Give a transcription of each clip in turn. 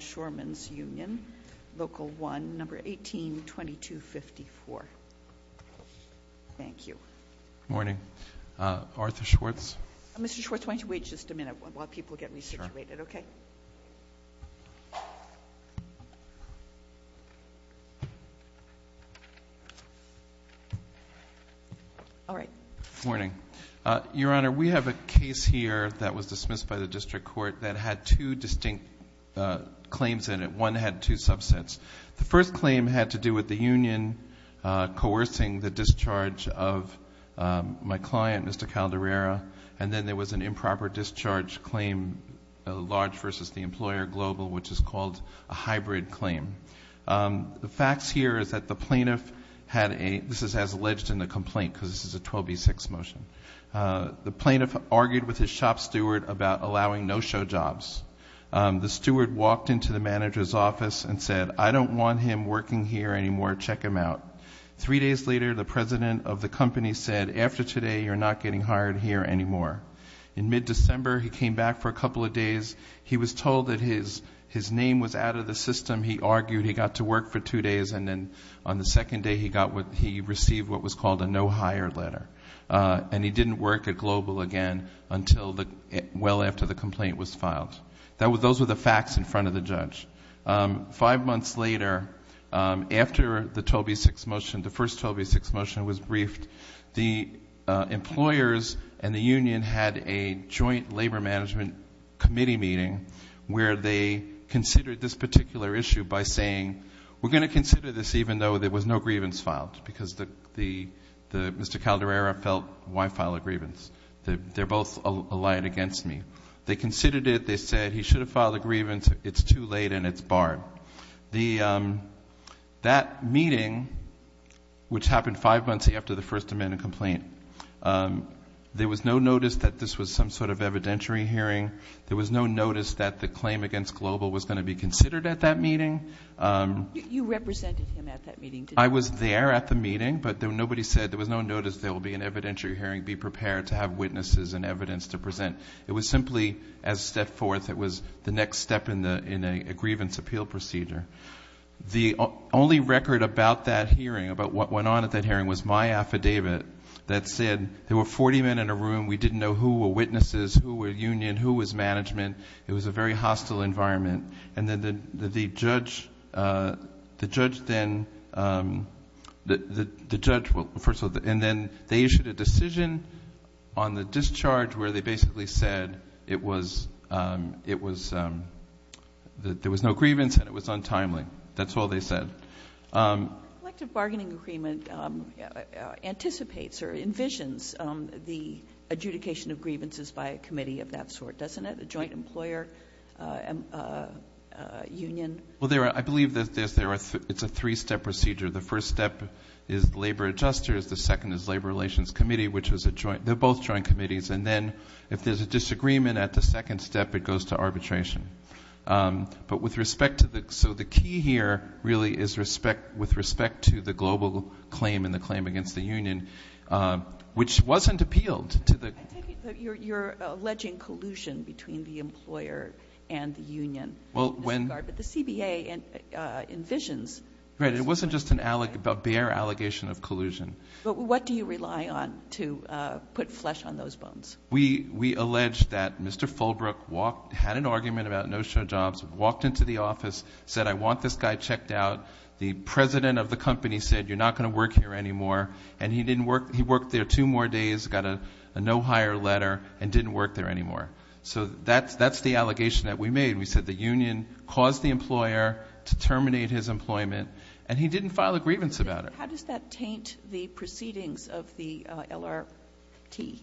Shoreman's Union, Local 1, No. 18-2254. Thank you. Good morning. Arthur Schwartz. Mr. Schwartz, why don't you wait just a minute while people get resituated, okay? All right. Good morning. Your Honor, we have a case here that was dismissed by the district court that had two distinct claims in it. One had two subsets. The first claim had to do with the union coercing the discharge of my client, Mr. Caldarera, and then there was an improper discharge claim, a large versus the employer global, which is called a hybrid claim. The facts here is that the plaintiff had a ‑‑ this is as alleged in the complaint because this is a 12B6 motion. The plaintiff argued with his shop steward about allowing no-show jobs. The steward walked into the manager's office and said, I don't want him working here anymore. Check him out. Three days later, the president of the company said, after today, you're not getting hired here anymore. In mid‑December, he came back for a couple of days. He was told that his name was out of the system. He argued. He got to work for two days, and then on the second day, he received what was called a no-hire letter, and he didn't work at Global again until well after the complaint was filed. Those were the facts in front of the judge. Five months later, after the 12B6 motion, the first 12B6 motion was briefed, the employers and the union had a joint labor management committee meeting where they considered this particular issue by saying, we're going to consider this even though there was no grievance filed because Mr. Calderera felt, why file a grievance? They're both allied against me. They considered it. They said, he should have filed a grievance. It's too late, and it's barred. That meeting, which happened five months after the First Amendment complaint, there was no notice that this was some sort of evidentiary hearing. There was no notice that the claim against Global was going to be considered at that meeting. You represented him at that meeting, didn't you? I was there at the meeting, but nobody said there was no notice there will be an evidentiary hearing. Be prepared to have witnesses and evidence to present. It was simply as a step forth. It was the next step in a grievance appeal procedure. The only record about that hearing, about what went on at that hearing, was my affidavit that said there were 40 men in a room. We didn't know who were witnesses, who were union, who was management. It was a very hostile environment. The judge then issued a decision on the discharge where they basically said there was no grievance and it was untimely. That's all they said. A collective bargaining agreement anticipates or envisions the adjudication of grievances by a committee of that sort, doesn't it? A joint employer union. Well, I believe it's a three-step procedure. The first step is labor adjusters. The second is labor relations committee, which is a joint. They're both joint committees. And then if there's a disagreement at the second step, it goes to arbitration. But with respect to the key here really is with respect to the Global claim and the claim against the union, which wasn't appealed. You're alleging collusion between the employer and the union. But the CBA envisions. Right. It wasn't just a bare allegation of collusion. But what do you rely on to put flesh on those bones? We allege that Mr. Fulbrook had an argument about no-show jobs, walked into the office, said, I want this guy checked out. The president of the company said, you're not going to work here anymore. And he worked there two more days. Got a no-hire letter and didn't work there anymore. So that's the allegation that we made. We said the union caused the employer to terminate his employment, and he didn't file a grievance about it. How does that taint the proceedings of the LRT?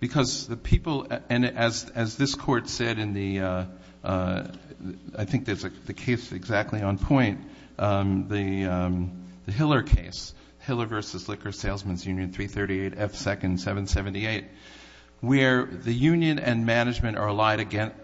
Because the people, and as this court said in the, I think there's a case exactly on point, the Hiller case, Hiller v. Liquor Salesman's Union, 338F2nd778, where the union and management are allied against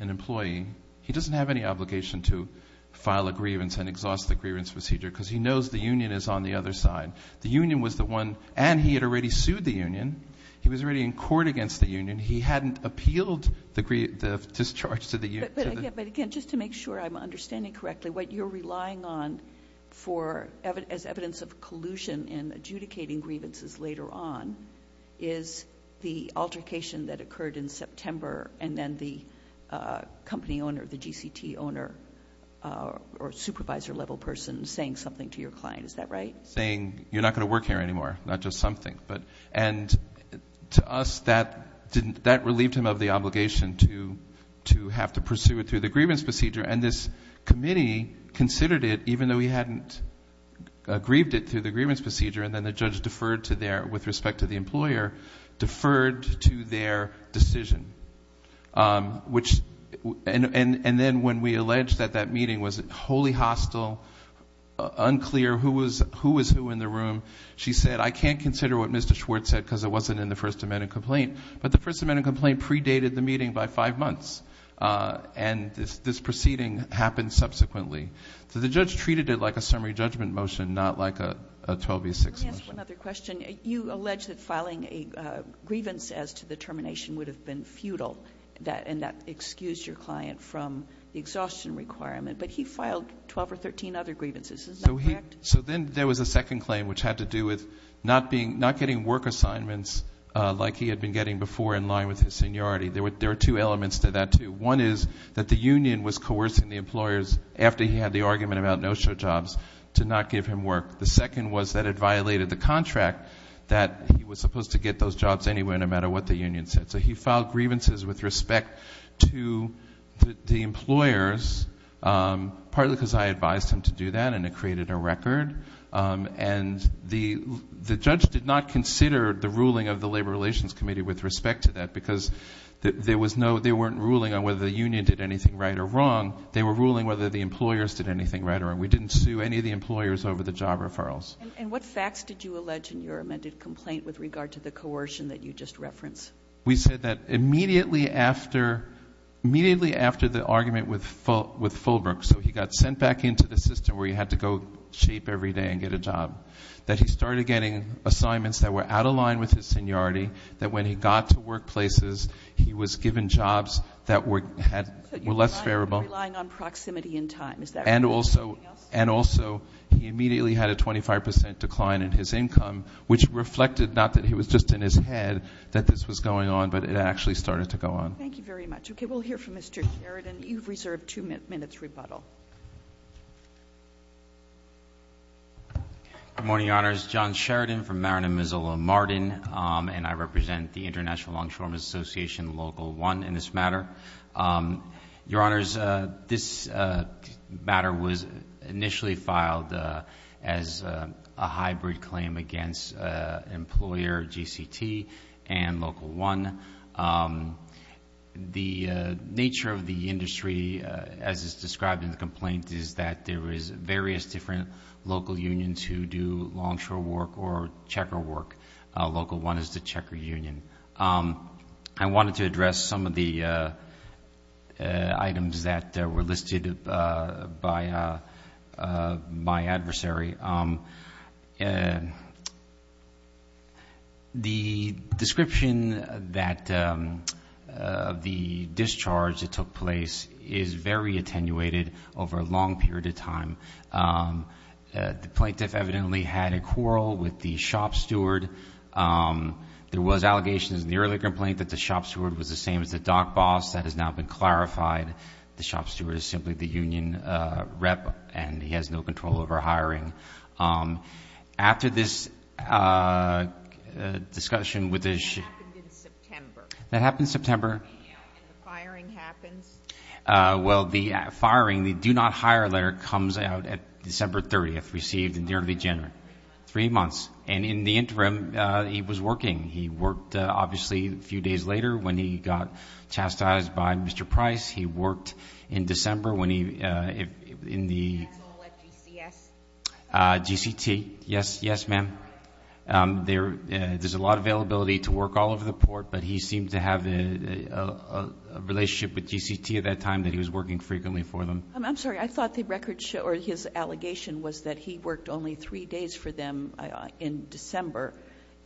an employee. He doesn't have any obligation to file a grievance and exhaust the grievance procedure because he knows the union is on the other side. The union was the one, and he had already sued the union. He was already in court against the union. He hadn't appealed the discharge to the union. But, again, just to make sure I'm understanding correctly, what you're relying on for, as evidence of collusion in adjudicating grievances later on, is the altercation that occurred in September and then the company owner, the GCT owner or supervisor-level person saying something to your client. Is that right? Saying, you're not going to work here anymore, not just something. And to us, that relieved him of the obligation to have to pursue it through the grievance procedure. And this committee considered it, even though he hadn't grieved it through the grievance procedure, and then the judge deferred to their, with respect to the employer, deferred to their decision. And then when we alleged that that meeting was wholly hostile, unclear, who was who in the room, she said, I can't consider what Mr. Schwartz said because it wasn't in the First Amendment complaint. But the First Amendment complaint predated the meeting by five months. And this proceeding happened subsequently. So the judge treated it like a summary judgment motion, not like a 12 v. 6 motion. Let me ask one other question. You allege that filing a grievance as to the termination would have been futile, and that excused your client from the exhaustion requirement. But he filed 12 or 13 other grievances. Is that correct? So then there was a second claim, which had to do with not getting work assignments like he had been getting before in line with his seniority. There were two elements to that, too. One is that the union was coercing the employers, after he had the argument about no-show jobs, to not give him work. The second was that it violated the contract that he was supposed to get those jobs anyway, no matter what the union said. So he filed grievances with respect to the employers, partly because I advised him to do that and it created a record. And the judge did not consider the ruling of the Labor Relations Committee with respect to that, because there weren't ruling on whether the union did anything right or wrong. They were ruling whether the employers did anything right or wrong. We didn't sue any of the employers over the job referrals. And what facts did you allege in your amended complaint with regard to the coercion that you just referenced? We said that immediately after the argument with Fulbrook, so he got sent back into the system where he had to go shape every day and get a job, that he started getting assignments that were out of line with his seniority, that when he got to workplaces he was given jobs that were less favorable. So you're relying on proximity in time. And also he immediately had a 25% decline in his income, which reflected not that it was just in his head that this was going on, but it actually started to go on. Thank you very much. Okay. We'll hear from Mr. Sheridan. You've reserved two minutes rebuttal. Good morning, Your Honors. John Sheridan from Marin and Missoula Martin, and I represent the International Long-Term Association Local 1 in this matter. Your Honors, this matter was initially filed as a hybrid claim against employer GCT and Local 1. The nature of the industry, as is described in the complaint, is that there is various different local unions who do longshore work or checker work. Local 1 is the checker union. I wanted to address some of the items that were listed by my adversary. The description that the discharge that took place is very attenuated over a long period of time. The plaintiff evidently had a quarrel with the shop steward. There was allegations in the earlier complaint that the shop steward was the same as the dock boss. That has now been clarified. The shop steward is simply the union rep, and he has no control over hiring. After this discussion with the ---- That happened in September. That happened in September. And the firing happens. Well, the firing, the do not hire letter comes out at December 30th, received in January. Three months. Three months. And in the interim, he was working. He worked, obviously, a few days later when he got chastised by Mr. Price. He worked in December when he, in the ---- At GCS? GCT. Yes. Yes, ma'am. There's a lot of availability to work all over the port, but he seemed to have a relationship with GCT at that time that he was working frequently for them. I'm sorry. I thought the record show or his allegation was that he worked only three days for them in December,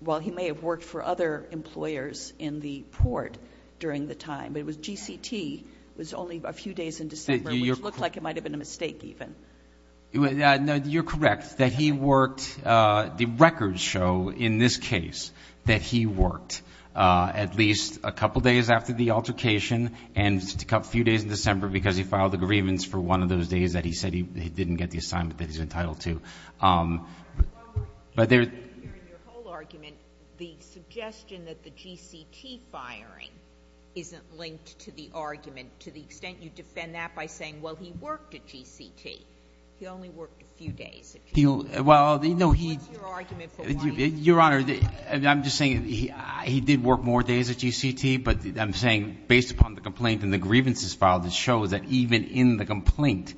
while he may have worked for other employers in the port during the time. But it was GCT was only a few days in December, which looked like it might have been a mistake even. You're correct that he worked. The records show in this case that he worked at least a couple days after the altercation and a few days in December because he filed a grievance for one of those days that he said he didn't get the assignment that he's entitled to. Your whole argument, the suggestion that the GCT firing isn't linked to the argument to the extent you defend that by saying, well, he worked at GCT. He only worked a few days at GCT. Well, no, he ---- What's your argument for wanting ---- Your Honor, I'm just saying he did work more days at GCT, but I'm saying based upon the complaint and the grievances filed, it shows that even in the complaint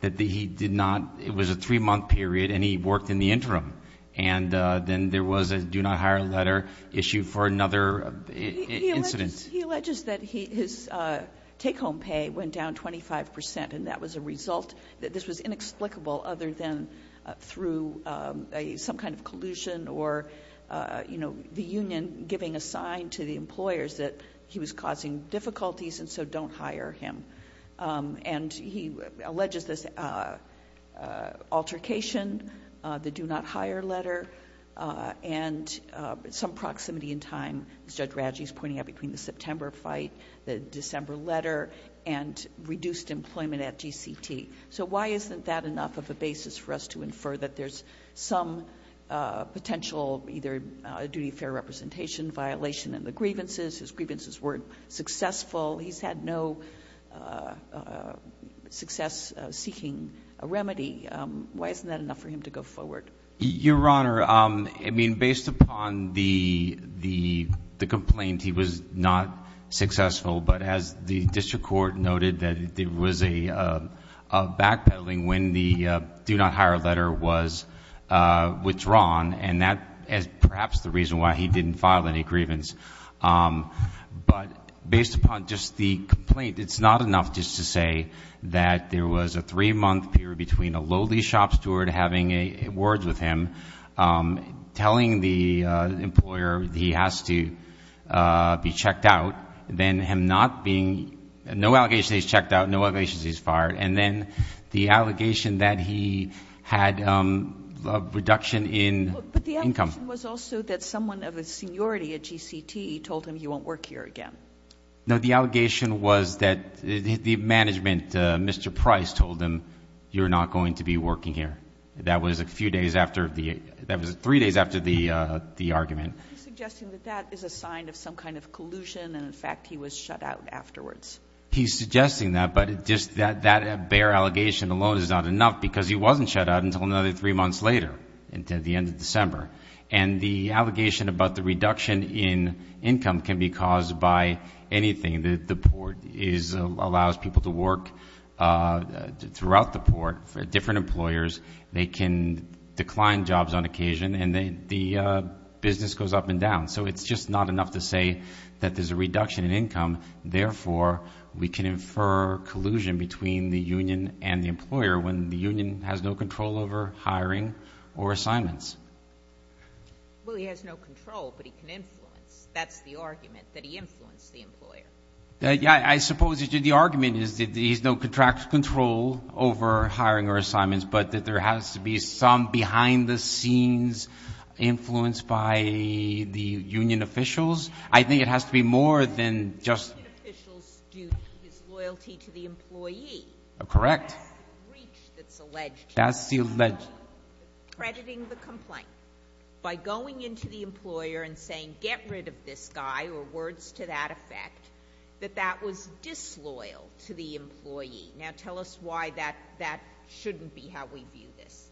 that he did not ---- it was a three-month period and he worked in the interim. And then there was a do not hire letter issued for another incident. He alleges that his take-home pay went down 25%, and that was a result that this was inexplicable other than through some kind of collusion or, you know, the union giving a sign to the employers that he was causing difficulties and so don't hire him. And he alleges this altercation, the do not hire letter, and some proximity in time, as Judge Radji is pointing out, between the September fight, the December letter, and reduced employment at GCT. So why isn't that enough of a basis for us to infer that there's some potential either a duty of fair representation violation in the grievances? His grievances weren't successful. He's had no success seeking a remedy. Why isn't that enough for him to go forward? Your Honor, I mean, based upon the complaint, he was not successful. But as the district court noted, there was a backpedaling when the do not hire letter was withdrawn, and that is perhaps the reason why he didn't file any grievance. But based upon just the complaint, it's not enough just to say that there was a three-month period between a lowly shop steward having words with him telling the employer he has to be checked out, then him not being no allegations he's checked out, no allegations he's fired, and then the allegation that he had a reduction in income. The allegation was also that someone of a seniority at GCT told him he won't work here again. No, the allegation was that the management, Mr. Price, told him you're not going to be working here. That was three days after the argument. He's suggesting that that is a sign of some kind of collusion, and, in fact, he was shut out afterwards. He's suggesting that, but just that bare allegation alone is not enough because he wasn't shut out until another three months later at the end of December. And the allegation about the reduction in income can be caused by anything. The port allows people to work throughout the port for different employers. They can decline jobs on occasion, and the business goes up and down. So it's just not enough to say that there's a reduction in income. Therefore, we can infer collusion between the union and the employer when the union has no control over hiring or assignments. Well, he has no control, but he can influence. That's the argument, that he influenced the employer. I suppose the argument is that he has no contractual control over hiring or assignments, but that there has to be some behind-the-scenes influence by the union officials. I think it has to be more than just... Union officials do his loyalty to the employee. Correct. That's the breach that's alleged. That's the alleged. Crediting the complaint by going into the employer and saying, get rid of this guy or words to that effect, that that was disloyal to the employee. Now tell us why that shouldn't be how we view this.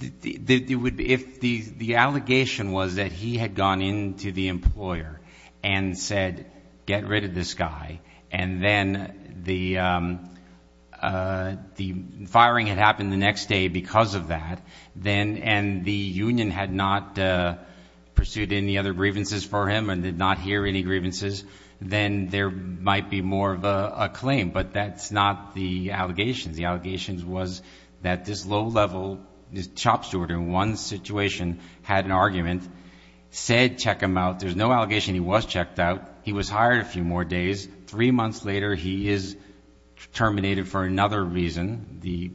If the allegation was that he had gone into the employer and said, get rid of this guy, and then the firing had happened the next day because of that, and the union had not pursued any other grievances for him and did not hear any grievances, then there might be more of a claim. But that's not the allegations. The allegations was that this low-level shop steward in one situation had an argument, said check him out. There's no allegation he was checked out. He was hired a few more days. Three months later he is terminated for another reason. The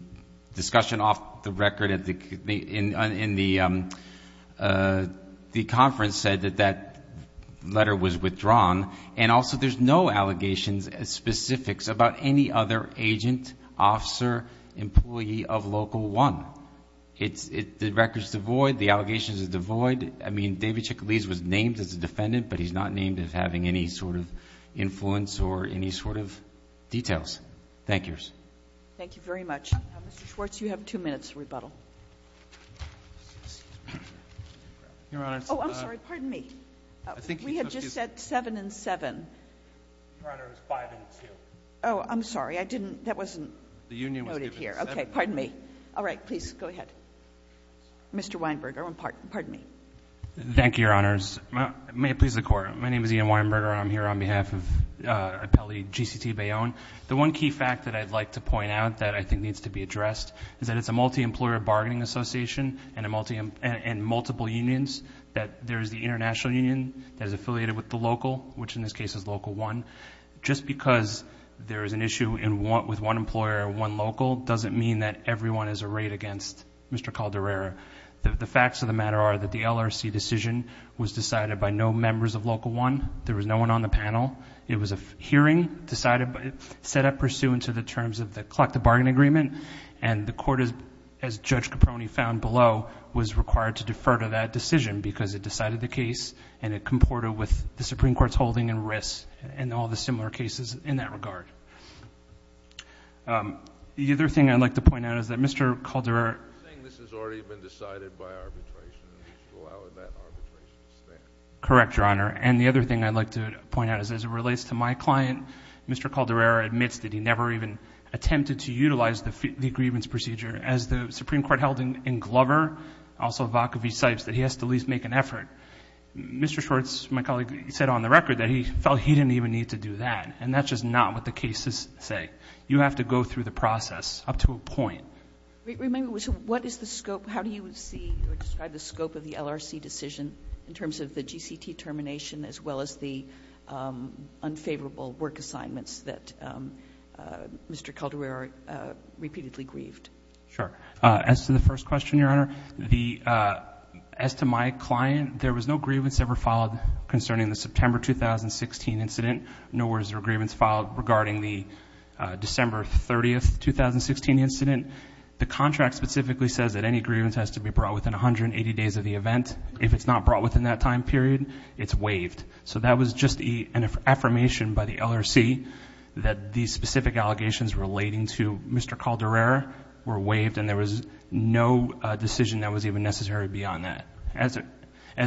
discussion off the record in the conference said that that letter was withdrawn. And also there's no allegations as specifics about any other agent, officer, employee of Local 1. The record's devoid. The allegations are devoid. I mean, David Chickalese was named as a defendant, but he's not named as having any sort of influence or any sort of details. Thank yours. Thank you very much. Mr. Schwartz, you have two minutes to rebuttal. Your Honor. Oh, I'm sorry. Pardon me. We had just said seven and seven. Your Honor, it was five and two. Oh, I'm sorry. That wasn't noted here. Okay. Pardon me. All right. Please go ahead. Mr. Weinberger. Pardon me. Thank you, Your Honors. May it please the Court. My name is Ian Weinberger. I'm here on behalf of Appellee G.C.T. Bayonne. The one key fact that I'd like to point out that I think needs to be addressed is that it's a multi-employer bargaining association and multiple unions, that there's the international union that is affiliated with the local, which in this case is Local 1. Just because there is an issue with one employer, one local, doesn't mean that everyone is arrayed against Mr. Calderero. The facts of the matter are that the LRC decision was decided by no members of Local 1. There was no one on the panel. It was a hearing set up pursuant to the terms of the collective bargaining agreement, and the Court, as Judge Caproni found below, was required to defer to that decision because it decided the case and it comported with the Supreme Court's holding and risks and all the similar cases in that regard. The other thing I'd like to point out is that Mr. Calderero ---- You're saying this has already been decided by arbitration and we should allow that arbitration to stand. Correct, Your Honor. And the other thing I'd like to point out is as it relates to my client, Mr. Calderero admits that he never even attempted to utilize the grievance procedure. As the Supreme Court held in Glover, also Vacaville-Sipes, that he has to at least make an effort. Mr. Schwartz, my colleague, said on the record that he felt he didn't even need to do that, and that's just not what the cases say. You have to go through the process up to a point. Remember, what is the scope? How do you see or describe the scope of the LRC decision in terms of the GCT termination as well as the unfavorable work assignments that Mr. Calderero repeatedly grieved? Sure. As to the first question, Your Honor, as to my client, there was no grievance ever filed concerning the September 2016 incident. Nowhere is there a grievance filed regarding the December 30, 2016 incident. The contract specifically says that any grievance has to be brought within 180 days of the event. If it's not brought within that time period, it's waived. So that was just an affirmation by the LRC that these specific allegations relating to Mr. Calderero were waived, and there was no decision that was even necessary beyond that. As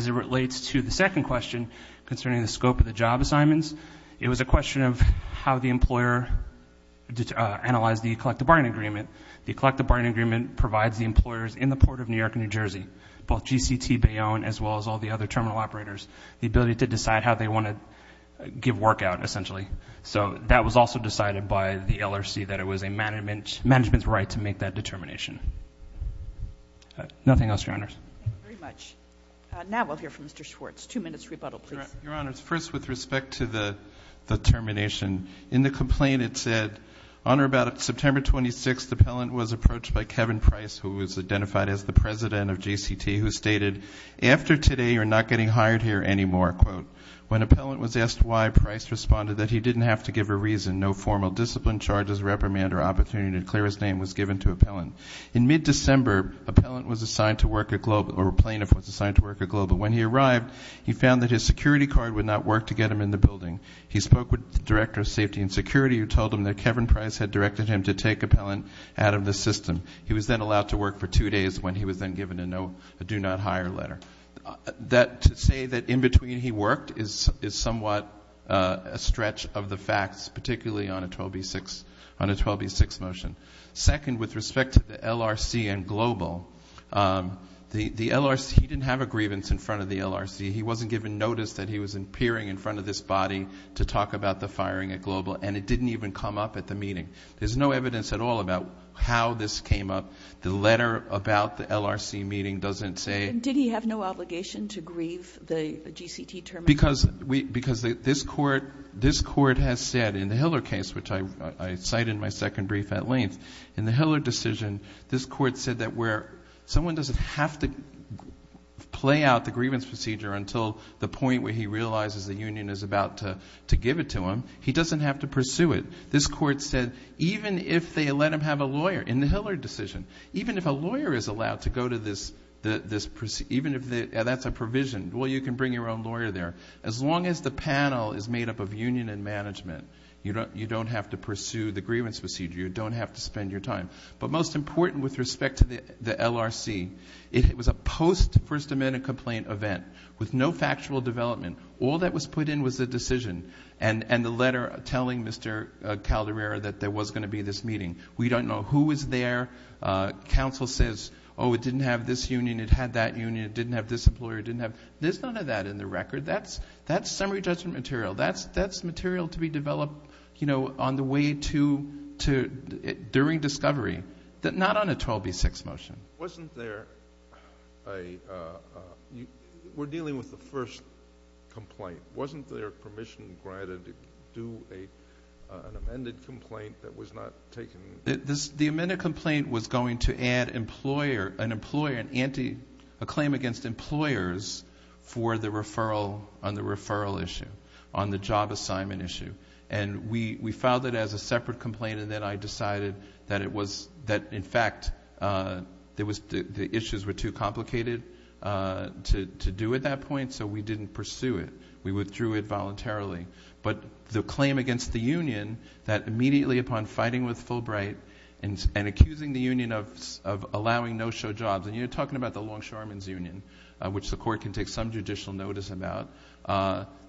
it relates to the second question concerning the scope of the job assignments, it was a question of how the employer analyzed the collective bargaining agreement. The collective bargaining agreement provides the employers in the Port of New York and New Jersey, both GCT, Bayonne, as well as all the other terminal operators, the ability to decide how they want to give work out, essentially. So that was also decided by the LRC that it was a management's right to make that determination. Nothing else, Your Honors. Thank you very much. Now we'll hear from Mr. Schwartz. Two minutes rebuttal, please. Your Honors, first with respect to the termination, in the complaint it said, on or about September 26th, the appellant was approached by Kevin Price, who was identified as the president of GCT, who stated, after today you're not getting hired here anymore, quote. When appellant was asked why, Price responded that he didn't have to give a reason, no formal discipline, charges, reprimand, or opportunity to declare his name was given to appellant. In mid-December, appellant was assigned to work at Global, or plaintiff was assigned to work at Global. When he arrived, he found that his security card would not work to get him in the building. He spoke with the director of safety and security, who told him that Kevin Price had directed him to take appellant out of the system. He was then allowed to work for two days when he was then given a do not hire letter. To say that in between he worked is somewhat a stretch of the facts, particularly on a 12B6 motion. Second, with respect to the LRC and Global, the LRC, he didn't have a grievance in front of the LRC. He wasn't given notice that he was appearing in front of this body to talk about the firing at Global, and it didn't even come up at the meeting. There's no evidence at all about how this came up. The letter about the LRC meeting doesn't say. And did he have no obligation to grieve the GCT termination? Because this court has said in the Hiller case, which I cite in my second brief at length, in the Hiller decision, this court said that where someone doesn't have to play out the grievance procedure until the point where he realizes the union is about to give it to him, he doesn't have to pursue it. This court said even if they let him have a lawyer in the Hiller decision, even if a lawyer is allowed to go to this, even if that's a provision, well, you can bring your own lawyer there. As long as the panel is made up of union and management, you don't have to pursue the grievance procedure, you don't have to spend your time. But most important with respect to the LRC, it was a post-First Amendment complaint event with no factual development. All that was put in was the decision and the letter telling Mr. Calderero that there was going to be this meeting. We don't know who was there. Council says, oh, it didn't have this union, it had that union, it didn't have this employer, it didn't have. There's none of that in the record. That's summary judgment material. That's material to be developed, you know, on the way to during discovery, not on a 12B6 motion. Wasn't there a we're dealing with the first complaint. Wasn't there permission granted to do an amended complaint that was not taken? The amended complaint was going to add an employer, a claim against employers, for the referral on the referral issue, on the job assignment issue. And we filed it as a separate complaint, and then I decided that, in fact, the issues were too complicated to do at that point, so we didn't pursue it. We withdrew it voluntarily. But the claim against the union that immediately upon fighting with Fulbright and accusing the union of allowing no-show jobs, and you're talking about the Longshoremen's Union, which the court can take some judicial notice about,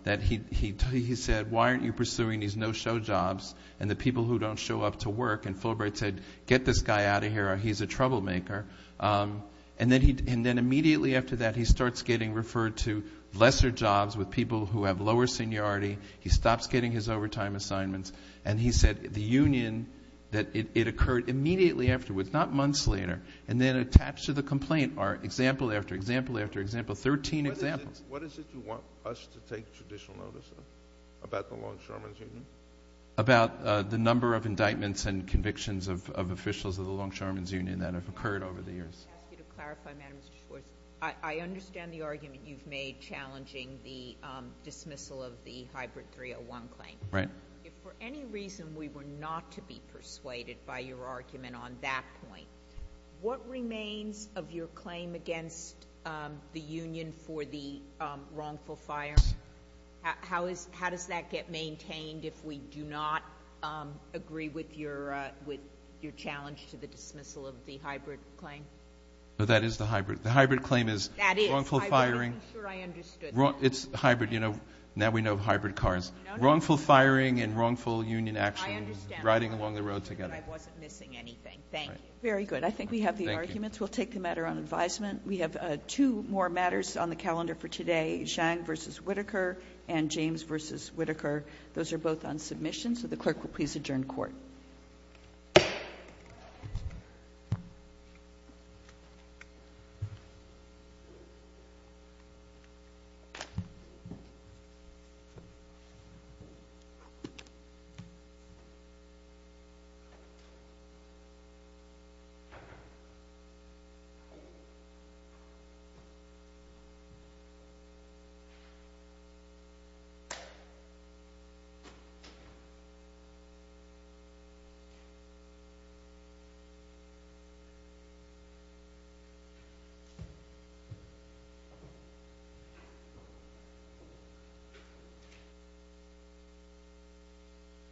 that he said, why aren't you pursuing these no-show jobs and the people who don't show up to work? And Fulbright said, get this guy out of here or he's a troublemaker. And then immediately after that, he starts getting referred to lesser jobs with people who have lower seniority. He stops getting his overtime assignments. And he said the union that it occurred immediately afterwards, not months later, and then attached to the complaint are example after example after example, 13 examples. What is it you want us to take judicial notice of about the Longshoremen's Union? About the number of indictments and convictions of officials of the Longshoremen's Union that have occurred over the years. Let me ask you to clarify, Madam Justice Schwartz. I understand the argument you've made challenging the dismissal of the hybrid 301 claim. Right. If for any reason we were not to be persuaded by your argument on that point, what remains of your claim against the union for the wrongful firing? How does that get maintained if we do not agree with your challenge to the dismissal of the hybrid claim? That is the hybrid. The hybrid claim is wrongful firing. I'm sure I understood. It's hybrid. Now we know hybrid cars. Wrongful firing and wrongful union action riding along the road together. I wasn't missing anything. Thank you. Very good. I think we have the arguments. We'll take the matter on advisement. We have two more matters on the calendar for today, Zhang v. Whitaker and James v. Whitaker. Those are both on submission, so the clerk will please adjourn court. Thank you.